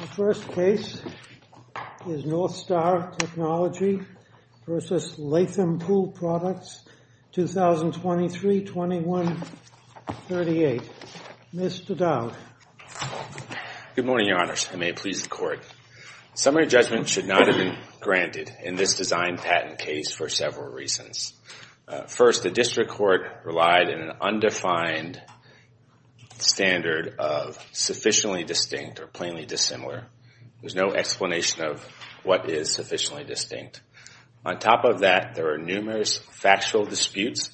The first case is North Star Technology v. Latham Pool Products, 2023-2138. Mr. Dowd. Good morning, Your Honors. I may please the Court. Summary judgment should not have been granted in this design patent case for several reasons. First, the District Court relied on an undefined standard of sufficiently distinct or plainly dissimilar. There's no explanation of what is sufficiently distinct. On top of that, there are numerous factual disputes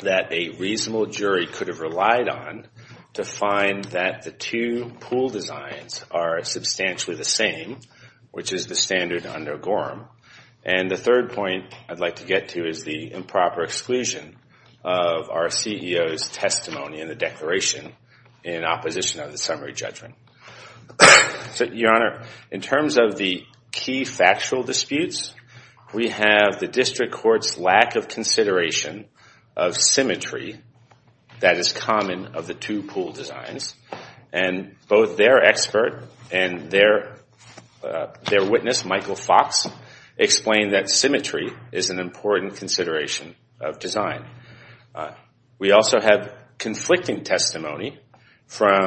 that a reasonable jury could have relied on to find that the two pool designs are substantially the same, which is the standard under Gorham. And the third point I'd like to get to is the improper exclusion of our CEO's testimony in the declaration in opposition of the summary judgment. So, Your Honor, in terms of the key factual disputes, we have the District Court's lack of consideration of symmetry that is common of the two pool designs. And both their expert and their witness, Michael Fox, explained that symmetry is an important consideration of design. We also have conflicting testimony from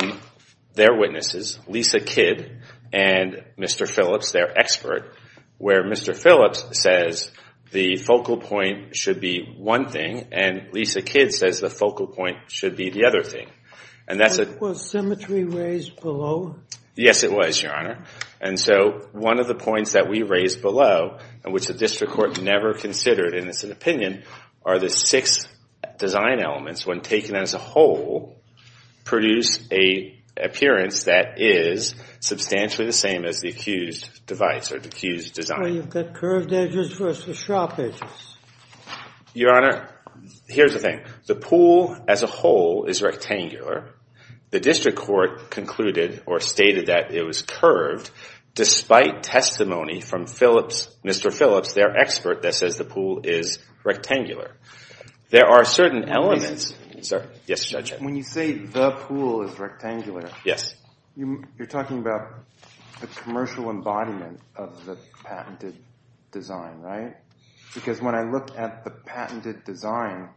their witnesses, Lisa Kidd and Mr. Phillips, their expert, where Mr. Phillips says the focal point should be one thing and Lisa Kidd says the focal point should be the other thing. And that's a... Was symmetry raised below? Yes, it was, Your Honor. And so one of the points that we raised below, and which the District Court never considered in its opinion, are the six design elements, when taken as a whole, produce an appearance that is substantially the same as the accused device or the accused design. So you've got curved edges versus sharp edges. Your Honor, here's the thing. The pool as a whole is rectangular. The District Court concluded or stated that it was curved, despite testimony from Mr. Phillips, their expert, that says the pool is rectangular. There are certain elements... Yes, Judge. When you say the pool is rectangular... Yes. You're talking about the commercial embodiment of the patented design, right? Because when I look at the patented design,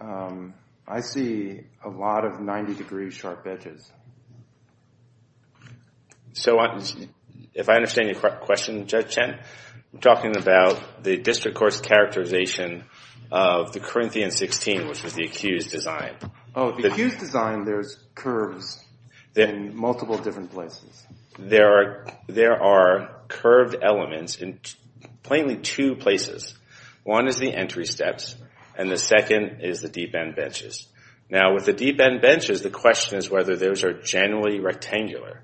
I see a lot of 90-degree sharp edges. So if I understand your question, Judge Chen, I'm talking about the District Court's characterization of the Corinthian 16, which was the accused design. Oh, the accused design, there's curves in multiple different places. There are curved elements in plainly two places. One is the entry steps, and the second is the deep-end benches. Now, with the deep-end benches, the question is whether those are generally rectangular.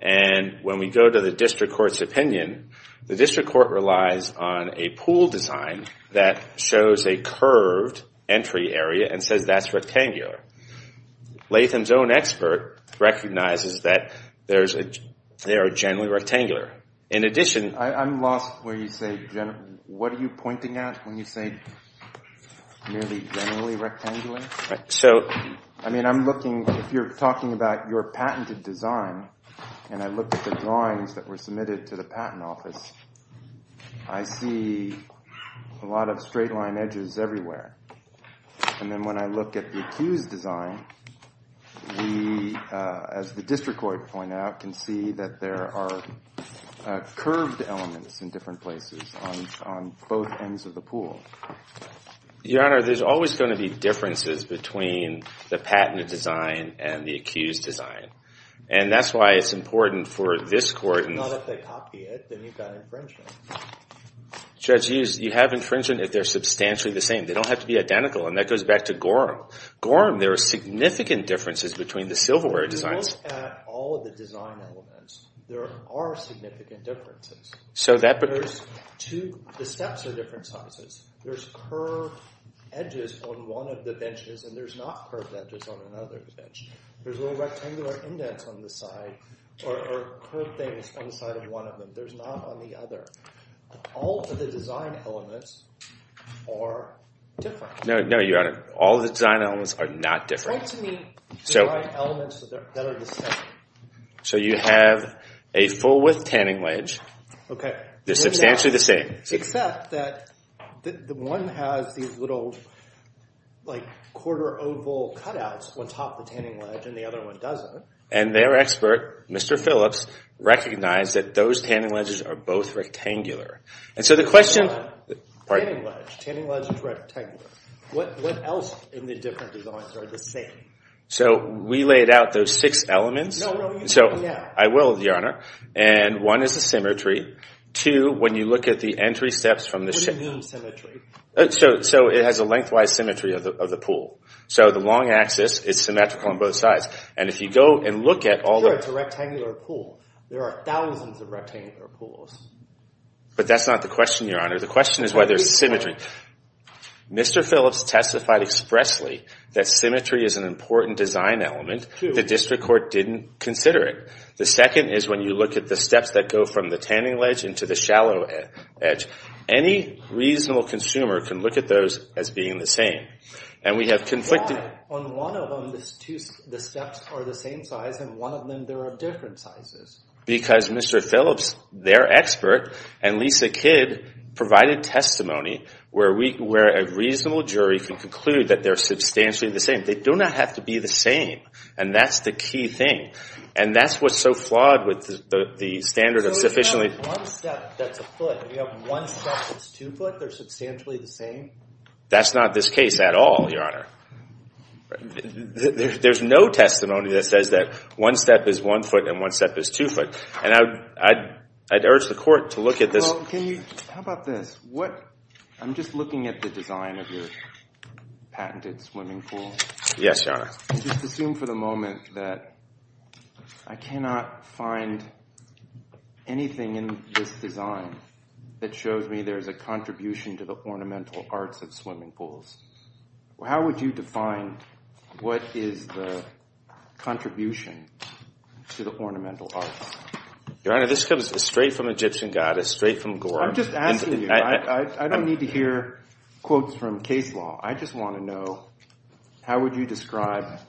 And when we go to the District Court's opinion, the District Court relies on a pool design that shows a curved entry area and says that's rectangular. Latham's own expert recognizes that they are generally rectangular. In addition... I'm lost where you say generally. What are you pointing at when you say merely generally rectangular? So... I mean, I'm looking... If you're talking about your patented design, and I look at the drawings that were submitted to the Patent Office, I see a lot of straight-line edges everywhere. And then when I look at the accused design, we, as the District Court pointed out, can see that there are curved elements in different places on both ends of the pool. Your Honor, there's always going to be differences between the patented design and the accused design. And that's why it's important for this court... Not if they copy it, then you've got infringement. Judge Hughes, you have infringement if they're substantially the same. They don't have to be identical. And that goes back to Gorham. Gorham, there are significant differences between the silverware designs. If you look at all of the design elements, there are significant differences. So that... There's two... The steps are different sizes. There's curved edges on one of the benches, and there's not curved edges on another bench. There's little rectangular indents on the side, or curved things on the side of one of them. There's not on the other. All of the design elements are different. No, Your Honor. All of the design elements are not different. Point to the design elements that are the same. So you have a full-width tanning ledge. Okay. They're substantially the same. Except that one has these little, like, quarter oval cutouts on top of the tanning ledge, and the other one doesn't. And their expert, Mr. Phillips, recognized that those tanning ledges are both rectangular. And so the question... Pardon me. Tanning ledge is rectangular. What else in the different designs are the same? So we laid out those six elements. No, no, you need to lay it out. I will, Your Honor. And one is the symmetry. Two, when you look at the entry steps from the... What do you mean symmetry? So it has a lengthwise symmetry of the pool. So the long axis is symmetrical on both sides. And if you go and look at all the... There are thousands of rectangular pools. But that's not the question, Your Honor. The question is why there's symmetry. Mr. Phillips testified expressly that symmetry is an important design element. The district court didn't consider it. The second is when you look at the steps that go from the tanning ledge into the shallow edge. Any reasonable consumer can look at those as being the same. And we have conflicted... Why? On one of them, the steps are the same size, and on one of them, there are different sizes. Because Mr. Phillips, their expert, and Lisa Kidd provided testimony where a reasonable jury can conclude that they're substantially the same. They do not have to be the same. And that's the key thing. And that's what's so flawed with the standard of sufficiently... So you have one step that's a foot. You have one step that's two foot. They're substantially the same? That's not this case at all, Your Honor. There's no testimony that says that one step is one foot and one step is two foot. And I'd urge the court to look at this. Well, can you... How about this? I'm just looking at the design of your patented swimming pool. Yes, Your Honor. Just assume for the moment that I cannot find anything in this design that shows me there's a contribution to the ornamental arts of swimming pools. How would you define what is the contribution to the ornamental arts? Your Honor, this comes straight from Egyptian goddess, straight from Gore. I'm just asking you. I don't need to hear quotes from case law. I just want to know how would you describe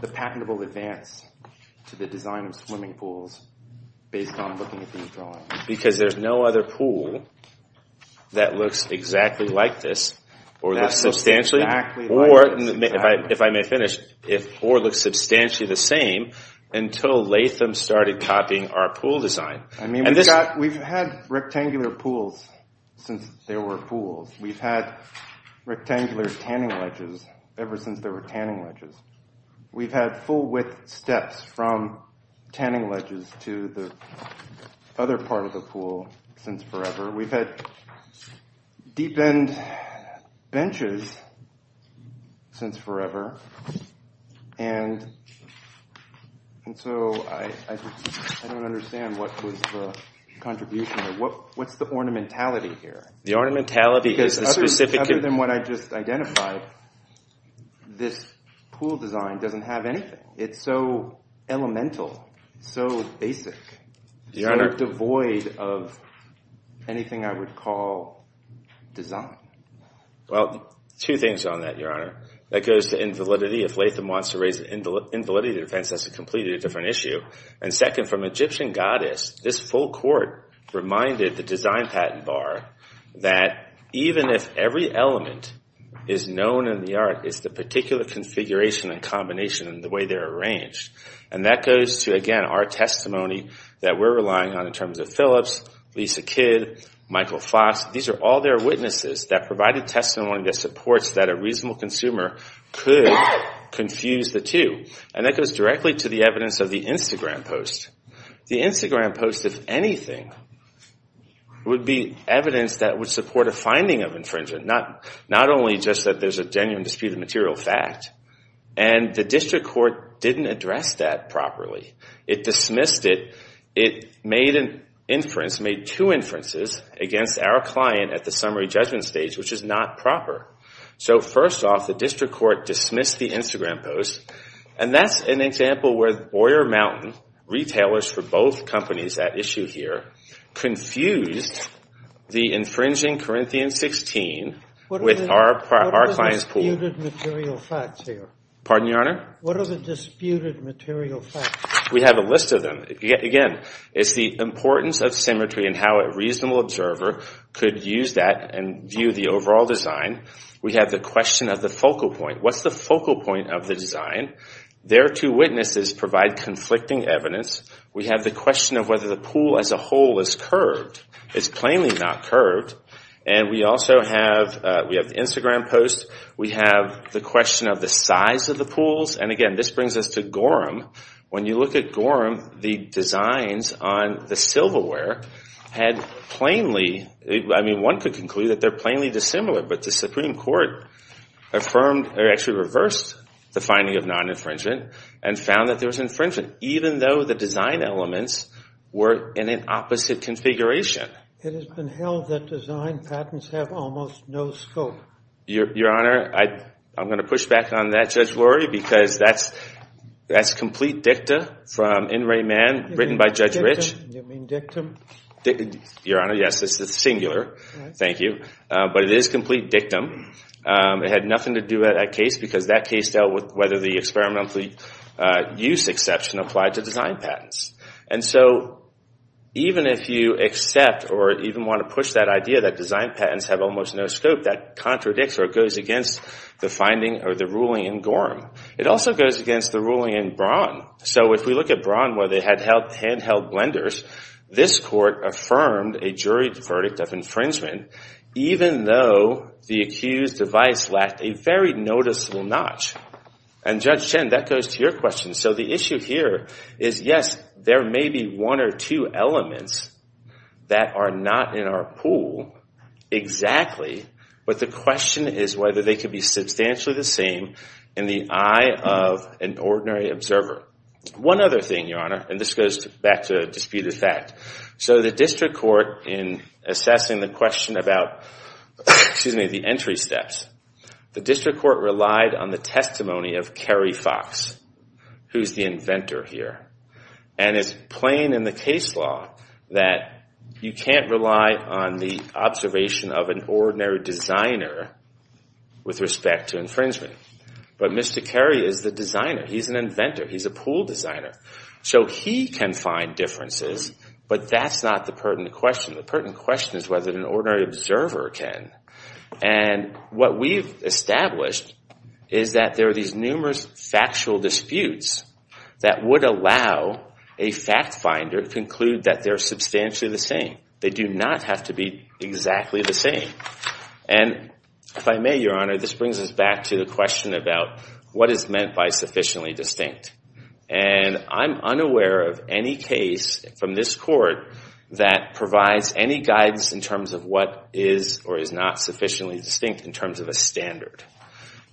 the patentable advance to the design of swimming pools based on looking at these drawings? Because there's no other pool that looks exactly like this or looks substantially... That looks exactly like this. ...or, if I may finish, or looks substantially the same until Latham started copying our pool design. I mean, we've had rectangular pools since there were pools. We've had rectangular tanning ledges ever since there were tanning ledges. We've had full-width steps from tanning ledges to the other part of the pool since forever. We've had deep-end benches since forever. And so I don't understand what was the contribution. What's the ornamentality here? The ornamentality is the specific... Because other than what I just identified, this pool design doesn't have anything. It's so elemental, so basic, so devoid of anything I would call design. Well, two things on that, Your Honor. That goes to invalidity. If Latham wants to raise the invalidity defense, that's a completely different issue. And second, from Egyptian goddess, this full court reminded the design patent bar that even if every element is known in the art, it's the particular configuration and combination and the way they're arranged. And that goes to, again, our testimony that we're relying on in terms of Phillips, Lisa Kidd, Michael Fox. These are all their witnesses that provided testimony that supports that a reasonable consumer could confuse the two. And that goes directly to the evidence of the Instagram post. The Instagram post, if anything, would be evidence that would support a finding of infringement. Not only just that there's a genuine disputed material fact. And the district court didn't address that properly. It dismissed it. It made an inference, made two inferences against our client at the summary judgment stage, which is not proper. So first off, the district court dismissed the Instagram post. And that's an example where Boyer Mountain, retailers for both companies at issue here, confused the infringing Corinthian 16 with our client's pool. What are the disputed material facts here? Pardon, Your Honor? What are the disputed material facts? We have a list of them. Again, it's the importance of symmetry and how a reasonable observer could use that and view the overall design. We have the question of the focal point. What's the focal point of the design? Their two witnesses provide conflicting evidence. We have the question of whether the pool as a whole is curved. It's plainly not curved. And we also have, we have the Instagram post. We have the question of the size of the pools. And again, this brings us to Gorham. When you look at Gorham, the designs on the silverware had plainly, I mean, one could conclude that they're plainly dissimilar. But the Supreme Court affirmed, or actually reversed the finding of non-infringement and found that there was infringement, even though the design elements were in an opposite configuration. It has been held that design patents have almost no scope. Your Honor, I'm going to push back on that, Judge Lurie, because that's complete dicta from In Re Man, written by Judge Rich. You mean dictum? Your Honor, yes. It's singular. Thank you. But it is complete dictum. It had nothing to do with that case because that case dealt with whether the experimental use exception applied to design patents. And so even if you accept or even want to push that idea that design patents have almost no scope, that contradicts or goes against the finding or the ruling in Gorham. It also goes against the ruling in Braun. So if we look at Braun where they had handheld blenders, this Court affirmed a jury verdict of infringement even though the accused device lacked a very noticeable notch. And Judge Chen, that goes to your question. So the issue here is yes, there may be one or two elements that are not in our pool exactly, but the question is whether they could be substantially the same in the eye of an ordinary observer. One other thing, Your Honor, and this goes back to disputed fact. So the District Court in assessing the question about the entry steps, the District Court relied on the testimony of Kerry Fox, who's the inventor here. And it's plain in the case law that you can't rely on the observation of an ordinary designer with respect to infringement. But Mr. Kerry is the designer. He's an inventor. He's a pool designer. So he can find differences, but that's not the pertinent question. The pertinent question is whether an ordinary observer can. And what we've established is that there are these numerous factual disputes that would allow a fact finder to conclude that they're substantially the same. They do not have to be exactly the same. And if I may, Your Honor, this brings us back to the question about what is meant by sufficiently distinct. And I'm unaware of any case from this Court that provides any guidance in terms of what is or is not sufficiently distinct in terms of a standard.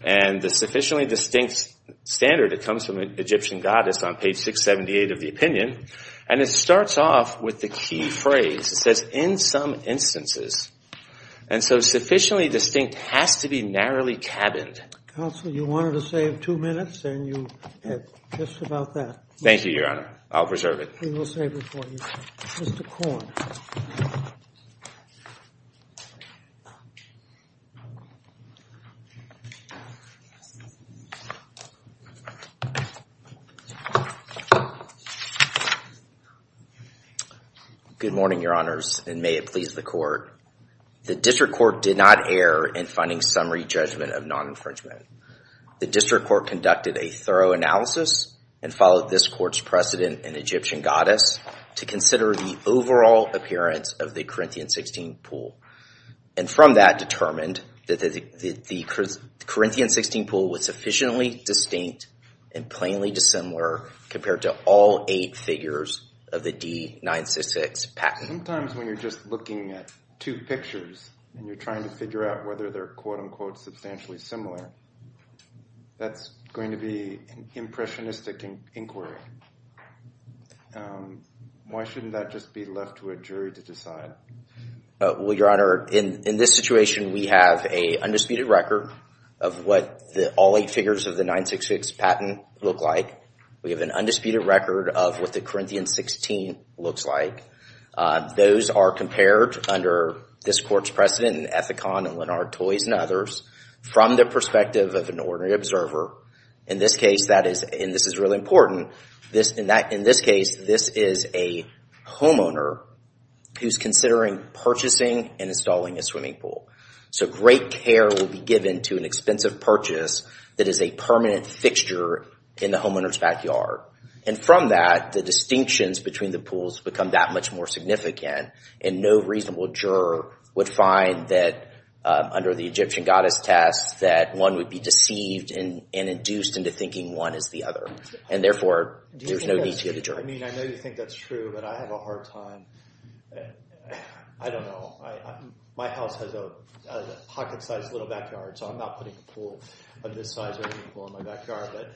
And the sufficiently distinct standard, it comes from Egyptian goddess on page 678 of the opinion, and it starts off with the key phrase. It says in some instances. And so sufficiently distinct has to be narrowly cabined. Counsel, you wanted to save two minutes and you have just about that. Thank you, Your Honor. I'll preserve it. We will save it for you. Mr. Korn. Good morning, Your Honors. And may it please the Court. The District Court did not err in finding summary judgment of non-infringement. The District Court conducted a thorough analysis and followed this Court's precedent in Egyptian goddess to consider the overall appearance of the Corinthian 16 pool. And from that determined that the Corinthian 16 pool was sufficiently distinct and plainly dissimilar compared to all eight figures of the D 966 patent. Sometimes when you're just looking at two pictures and you're trying to figure out whether they're quote unquote substantially similar, that's going to be an impressionistic inquiry. Why shouldn't that just be left to a jury to decide? Well, Your Honor, in this situation, we have an undisputed record of what all eight figures of the 966 patent look like. We have an undisputed record of what the Corinthian 16 looks like. Those are compared under this Court's precedent in Ethicon and Lennart Toys and others. From the perspective of an ordinary observer, in this case, and this is really important, this is a homeowner who's considering purchasing and installing a swimming pool. So great care will be given to an expensive purchase that is a permanent fixture in the homeowner's backyard. And from that, the distinctions between the pools become that much more significant, and no reasonable juror would find that under the Egyptian goddess test that one would be deceived and induced into thinking one is the other. And therefore, there's no need to get a jury. I mean, I know you think that's true, but I have a hard time. I don't know. My house has a pocket-sized little backyard, so I'm not putting a pool of this size or any pool in my backyard. But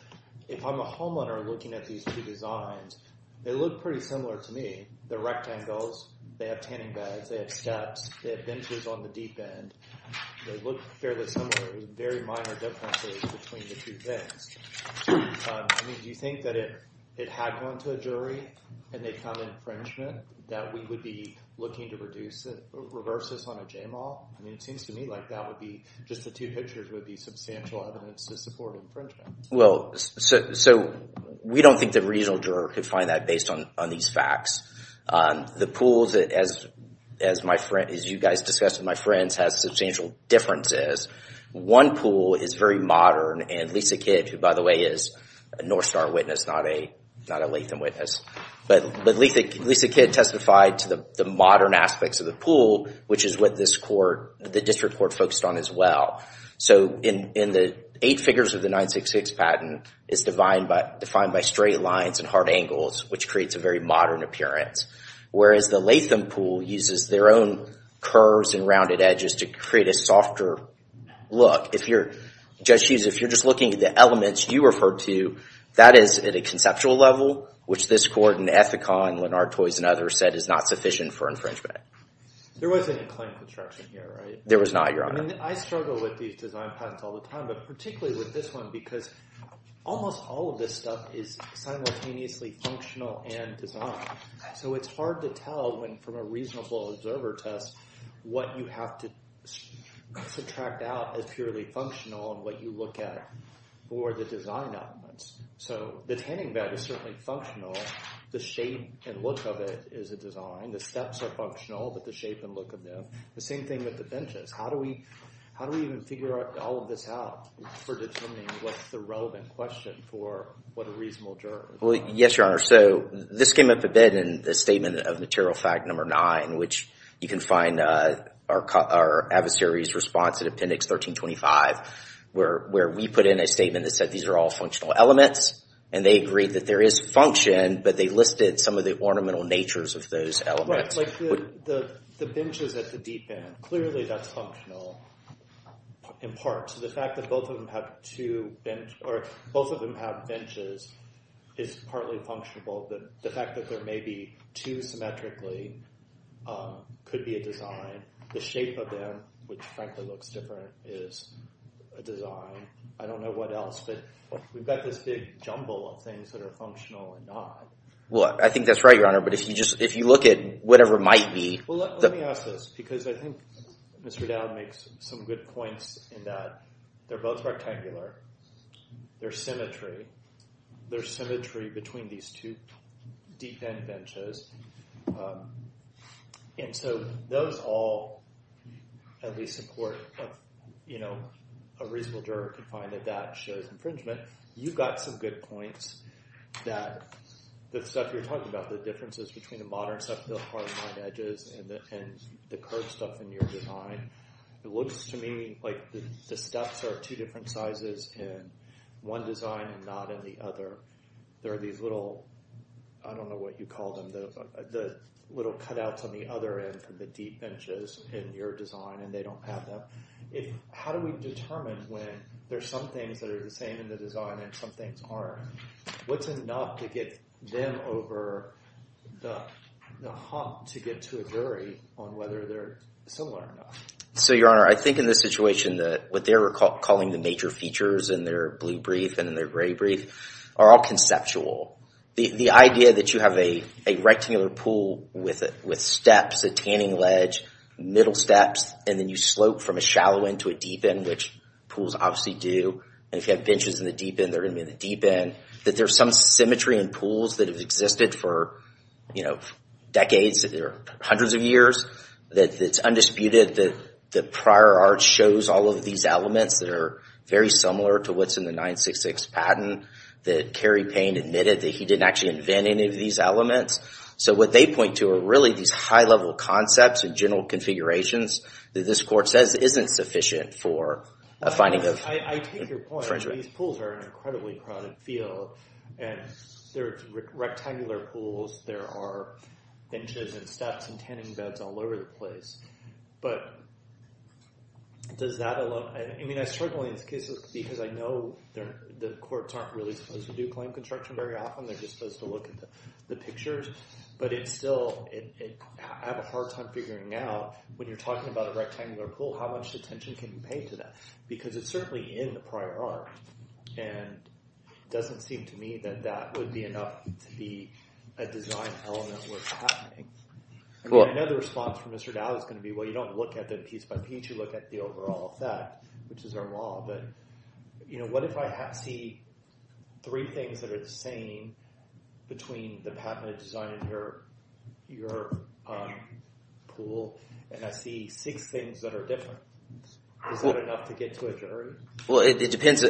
if I'm a homeowner looking at these two designs, they look pretty similar to me. They're rectangles, they have tanning beds, they have steps, they have benches on the deep end. They look fairly similar. There are very minor differences between the two things. I mean, do you think that if it had gone to a jury and they found infringement, that we would be looking to reverse this on a JMAW? I mean, it seems to me like that would be, just the two pictures would be substantial evidence to support infringement. So, we don't think the reasonable juror could find that based on these facts. The pools, as you guys discussed with my friends, has substantial differences. One pool is very modern, and Lisa Kidd, who, by the way, is a North Star witness, not a Latham witness, but Lisa Kidd testified to the modern aspects of the pool, which is what this court, the district court, focused on as well. So, in the eight figures of the 966 patent, it's defined by straight lines and hard angles, which creates a very modern appearance, whereas the Latham pool uses their own curves and rounded edges to create a softer look. Judge Hughes, if you're just looking at the elements you referred to, that is at a conceptual level, which this court and Ethicon, Lennart, Toys, and others said is not sufficient for infringement. There wasn't a claim to destruction here, right? There was not, Your Honor. I mean, I struggle with these design patents all the time, but particularly with this one, because almost all of this stuff is simultaneously functional and designed. So, it's hard to tell when, from a reasonable observer test, what you have to subtract out as purely functional and what you look at for the design elements. So, the tanning bed is certainly functional. The shape and look of it is a design. The steps are functional, but the shape and look of them, the same thing with the benches. How do we even figure all of this out for determining what's the relevant question for what a reasonable juror is? Well, yes, Your Honor. So, this came up a bit in the statement of material fact number nine, which you can find our adversary's response in appendix 1325, where we put in a statement that said these are all functional elements, and they agreed that there is function, but they listed some of the ornamental natures of those elements. Right, like the benches at the deep end, clearly that's functional, in part to the fact that both of them have two benches, or both of them have benches, is partly functional. The fact that there may be two symmetrically could be a design. The shape of them, which frankly looks different, is a design. I don't know what else, but we've got this big jumble of things that are functional or not. Well, I think that's right, Your Honor, but if you look at whatever might be... Well, let me ask this, because I think Mr. Dowd makes some good points in that they're both rectangular, they're symmetry, they're symmetry between these two deep end benches, and so those all at least support a reasonable juror could find that that shows infringement. You've got some good points that the stuff you're talking about, the differences between the modern stuff, the hard lined edges, and the curved stuff in your design, it looks to me like the steps are two different sizes in one design and not in the other. There are these little, I don't know what you call them, little cutouts on the other end from the deep benches in your design and they don't have them. How do we determine when there's some things that are the same in the design and some things aren't? What's enough to get them over the hump to get to a jury on whether they're similar or not? So, Your Honor, I think in this situation that what they're calling the major features in their blue brief and in their gray brief are all conceptual. The idea that you have a rectangular pool with steps, a tanning ledge, middle steps, and then you slope from a shallow end to a deep end, which pools obviously do, and if you have benches in the deep end, they're going to be in the deep end, that there's some symmetry in pools that have existed for decades or hundreds of years, that it's undisputed that prior art shows all of these elements that are very similar to what's in the 966 patent that Cary Payne admitted that he didn't actually invent any of these elements. So what they point to are really these high-level concepts and general configurations that this Court says isn't sufficient for a finding of... I take your point. These pools are an incredibly crowded field and they're rectangular pools. There are benches and steps and tanning beds all over the place. But does that allow... I mean, I struggle in these cases because I know the Courts aren't really supposed to do claim construction very often, they're just supposed to look at the pictures, but it's still... I have a hard time figuring out when you're talking about a rectangular pool, how much attention can you pay to that? Because it's certainly in the prior art and it doesn't seem to me that that would be enough to be a design element worth having. I mean, I know the response from Mr. Dowd is going to be, well, you don't look at the piece by piece, you look at the overall effect, which is our law, but what if I see three things that are the same between the patented design and your pool, and I see six things that are different? Is that enough to get to a jury? Well, it depends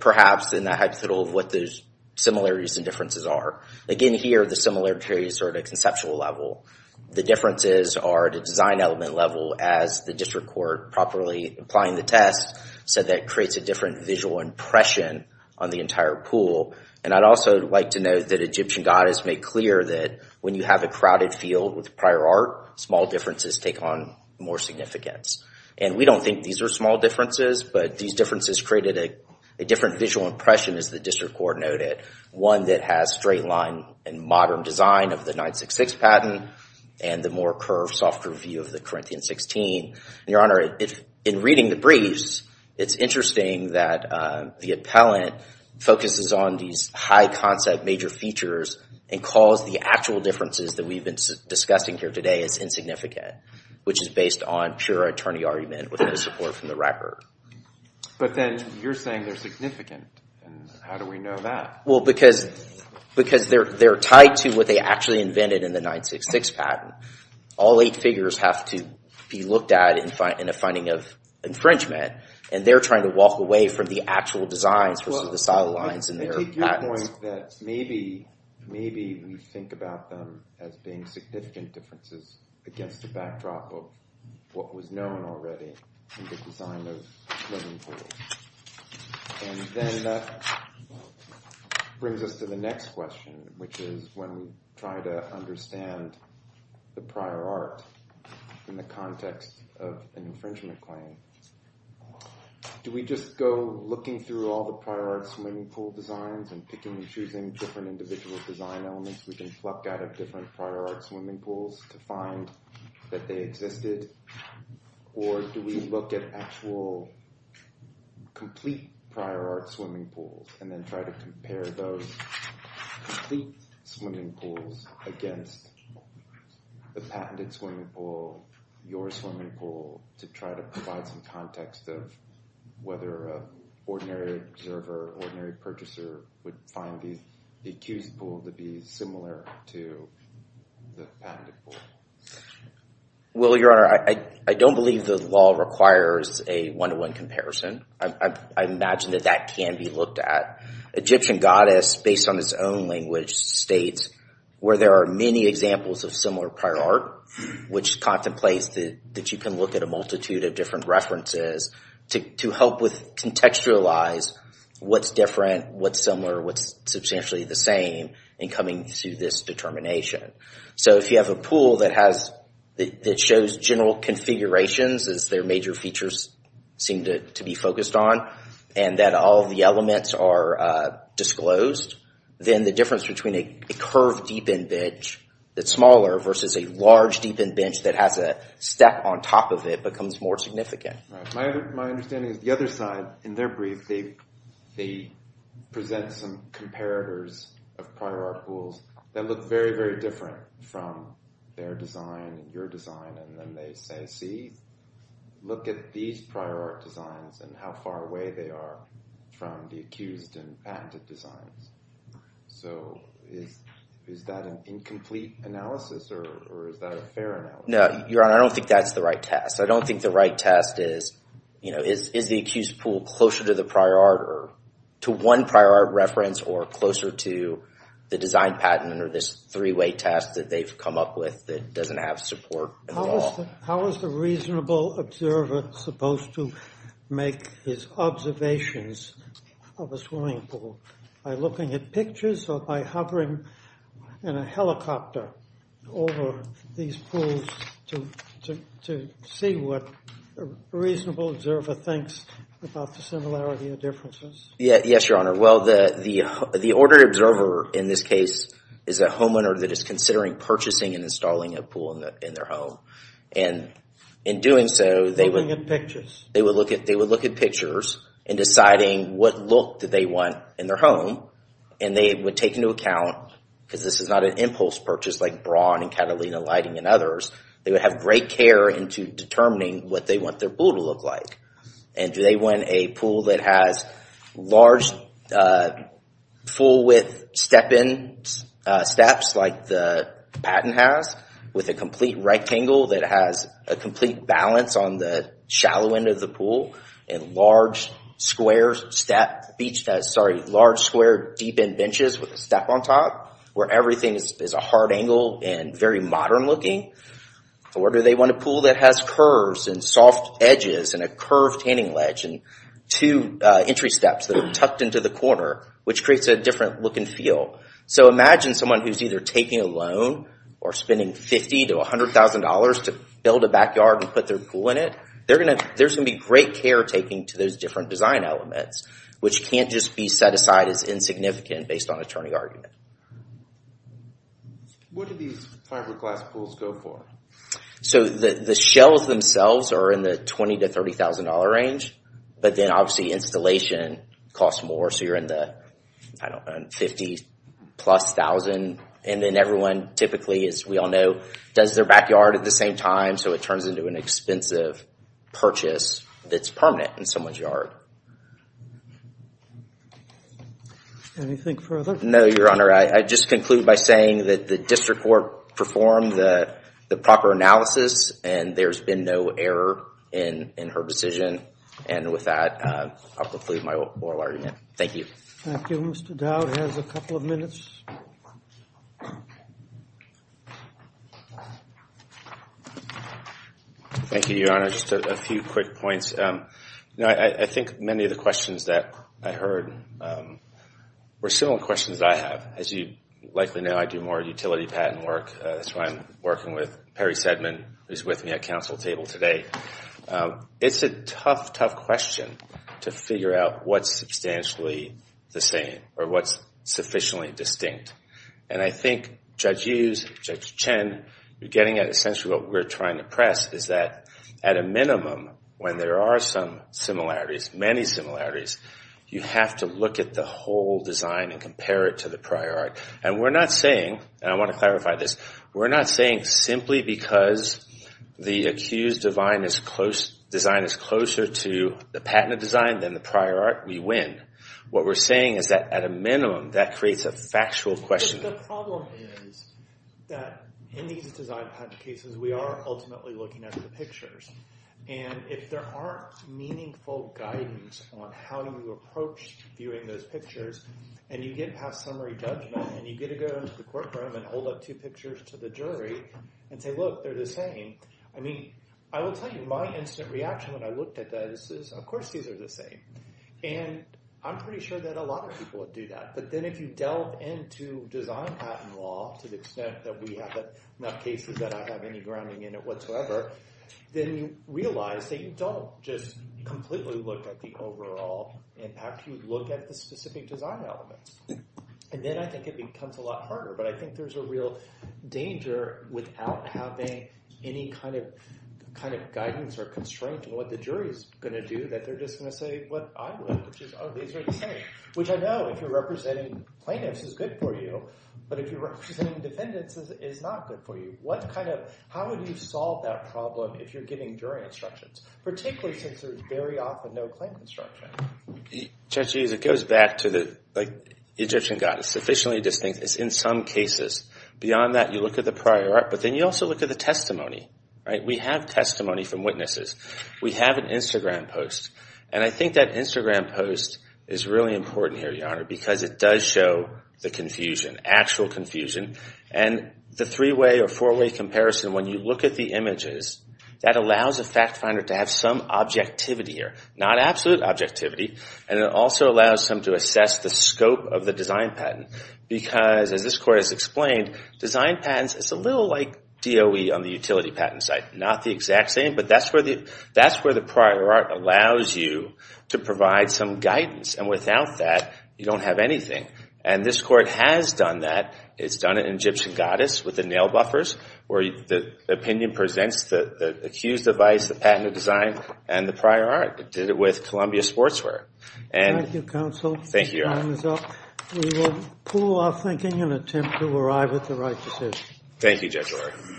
perhaps in the hypothetical of what those similarities and differences are. In here, the similarities are at a conceptual level. The differences are at a design element level as the district court properly applying the test said that it creates a different visual impression on the entire pool. And I'd also like to note that Egyptian goddess made clear that when you have a crowded field with prior art, small differences take on more significance. And we don't think these are small differences, but these differences created a different visual impression, as the district court noted, one that has straight line and modern design of the 966 patent and the more curved soft review of the Corinthian 16. Your Honor, in reading the briefs, it's interesting that the appellant focuses on these high concept major features and calls the actual differences that we've been discussing here today as insignificant, which is based on pure attorney argument with no support from the record. But then you're saying they're significant. How do we know that? Well, because they're tied to what they actually invented in the 966 patent. All eight figures have to be looked at in a finding of infringement, and they're trying to walk away from the actual designs versus the sidelines in their patents. Maybe we think about them as being significant differences against the backdrop of what was known already in the design of living pools. And then brings us to the next question, which is when we try to understand the prior art in the context of an infringement claim, do we just go looking through all the prior art swimming pool designs and picking and choosing different individual design elements we can pluck out of different prior art swimming pools to find that they existed? Or do we look at actual complete prior art swimming pools and then try to compare those complete swimming pools against the patented swimming pool, your swimming pool, to try to provide some context of whether an ordinary observer, ordinary purchaser would find the accused pool to be similar to the patented pool? Well, Your Honor, I don't believe the law requires a one-to-one comparison. I imagine that that can be looked at. Egyptian goddess, based on its own language, states where there are many examples of similar prior art, which contemplates that you can look at a multitude of different references to help with contextualize what's different, what's similar, what's substantially the same in coming to this determination. So if you have a pool that shows general configurations, as their major features seem to be focused on, and that all the elements are disclosed, then the difference between a curved deep-end bench that's smaller versus a large deep-end bench that has a step on top of it becomes more significant. My understanding is the other side, in their brief, they present some comparators of prior art pools that look very, very different from their design and your design, and then they say, see, look at these prior art designs and how far away they are from the accused and patented designs. So is that an incomplete analysis, or is that a fair analysis? No, Your Honor, I don't think that's the right test. I don't think the right test is is the accused pool closer to the prior art or to one prior art reference or closer to the design patent or this three-way test that they've come up with that doesn't have support at all. How is the reasonable observer supposed to make his observations of a swimming pool? By looking at pictures or by hovering in a helicopter over these pools to see what a reasonable observer thinks about the similarity or differences? Yes, Your Honor. Well, the ordered observer in this case is a homeowner that is considering purchasing and installing a pool in their home. And in doing so, they would look at pictures and deciding what look that they want in their home and they would take into account because this is not an impulse purchase like Braun and Catalina Lighting and others, they would have great care into determining what they want their pool to look like. And do they want a pool that has large full-width step-in steps like the patent has with a complete rectangle that has a complete balance on the shallow end of the pool and large square deep-end benches with a step on top where everything is a hard angle and very modern looking? Or do they want a pool that has curves and soft edges and a curved standing ledge and two entry steps that are tucked into the corner which creates a different look and feel? So imagine someone who is either taking a loan or spending $50,000 to $100,000 to build a backyard and put their pool in it. There's going to be great care taken to those different design elements which can't just be set aside as insignificant based on attorney argument. What do these fiberglass pools go for? So the shells themselves are in the $20,000 to $30,000 range but then obviously installation costs more so you're in the $50,000 plus $1,000 and then everyone typically as we all know does their backyard at the same time so it turns into an expensive purchase that's permanent in someone's yard. Anything further? No, Your Honor. I just conclude by saying that the district court performed the proper analysis and there's been no error in her decision and with that I'll conclude my oral argument. Thank you. Thank you. Mr. Dowd has a couple of minutes. Thank you, Your Honor. Just a few quick points. I think many of the questions that I heard were similar questions that I have. As you likely know I do more utility patent work. That's why I'm working with Perry Sedman who's with me at council table today. It's a tough tough question to figure out what's substantially the same or what's sufficiently distinct and I think Judge Hughes, Judge Chen are getting at essentially what we're trying to press is that at a minimum when there are some similarities many similarities, you have to look at the whole design and compare it to the prior art and we're not saying, and I want to clarify this we're not saying simply because the accused design is closer to the patented design than the prior art, we win. What we're saying is that at a minimum that creates a factual question. The problem is that in these design patent cases we are ultimately looking at the pictures and if there aren't meaningful guidance on how you approach viewing those pictures and you get past summary judgment and you get to go into the courtroom and hold up two pictures to the jury and say, look, they're the same I mean, I will tell you my instant reaction when I looked at those is, of course these are the same and I'm pretty sure that a lot of people would do that, but then if you delve into design patent law to the extent that we have enough cases that I have any grounding in it whatsoever then you realize that you don't just completely look at the overall impact, you look at the specific design elements and then I think it becomes a lot harder but I think there's a real danger without having any kind of guidance or constraint in what the jury is going to do that they're just going to say what I would which is, oh, these are the same, which I know if you're representing plaintiffs is good for you but if you're representing defendants is not good for you. What kind of how would you solve that problem if you're giving jury instructions? Particularly since there's very often no claim construction Judge Hughes, it goes back to the Egyptian goddess sufficiently distinct, it's in some cases beyond that you look at the prior art but then you also look at the testimony we have testimony from witnesses we have an Instagram post and I think that Instagram post is really important here, Your Honor, because it does show the confusion actual confusion and the three-way or four-way comparison when you look at the images that allows a fact finder to have some objectivity here, not absolute objectivity and it also allows them to assess the scope of the design patent because as this court has explained design patents, it's a little like DOE on the utility patent site, not the exact same, but that's where the prior art allows you to provide some guidance and without that you don't have anything and this court has done that it's done it in Egyptian goddess with the nail buffers where the opinion presents the accused device the patent of design and the prior art it did it with Columbia sportswear Thank you, counsel. We will pull off thinking and attempt to arrive at the right decision. Thank you, Judge Lord.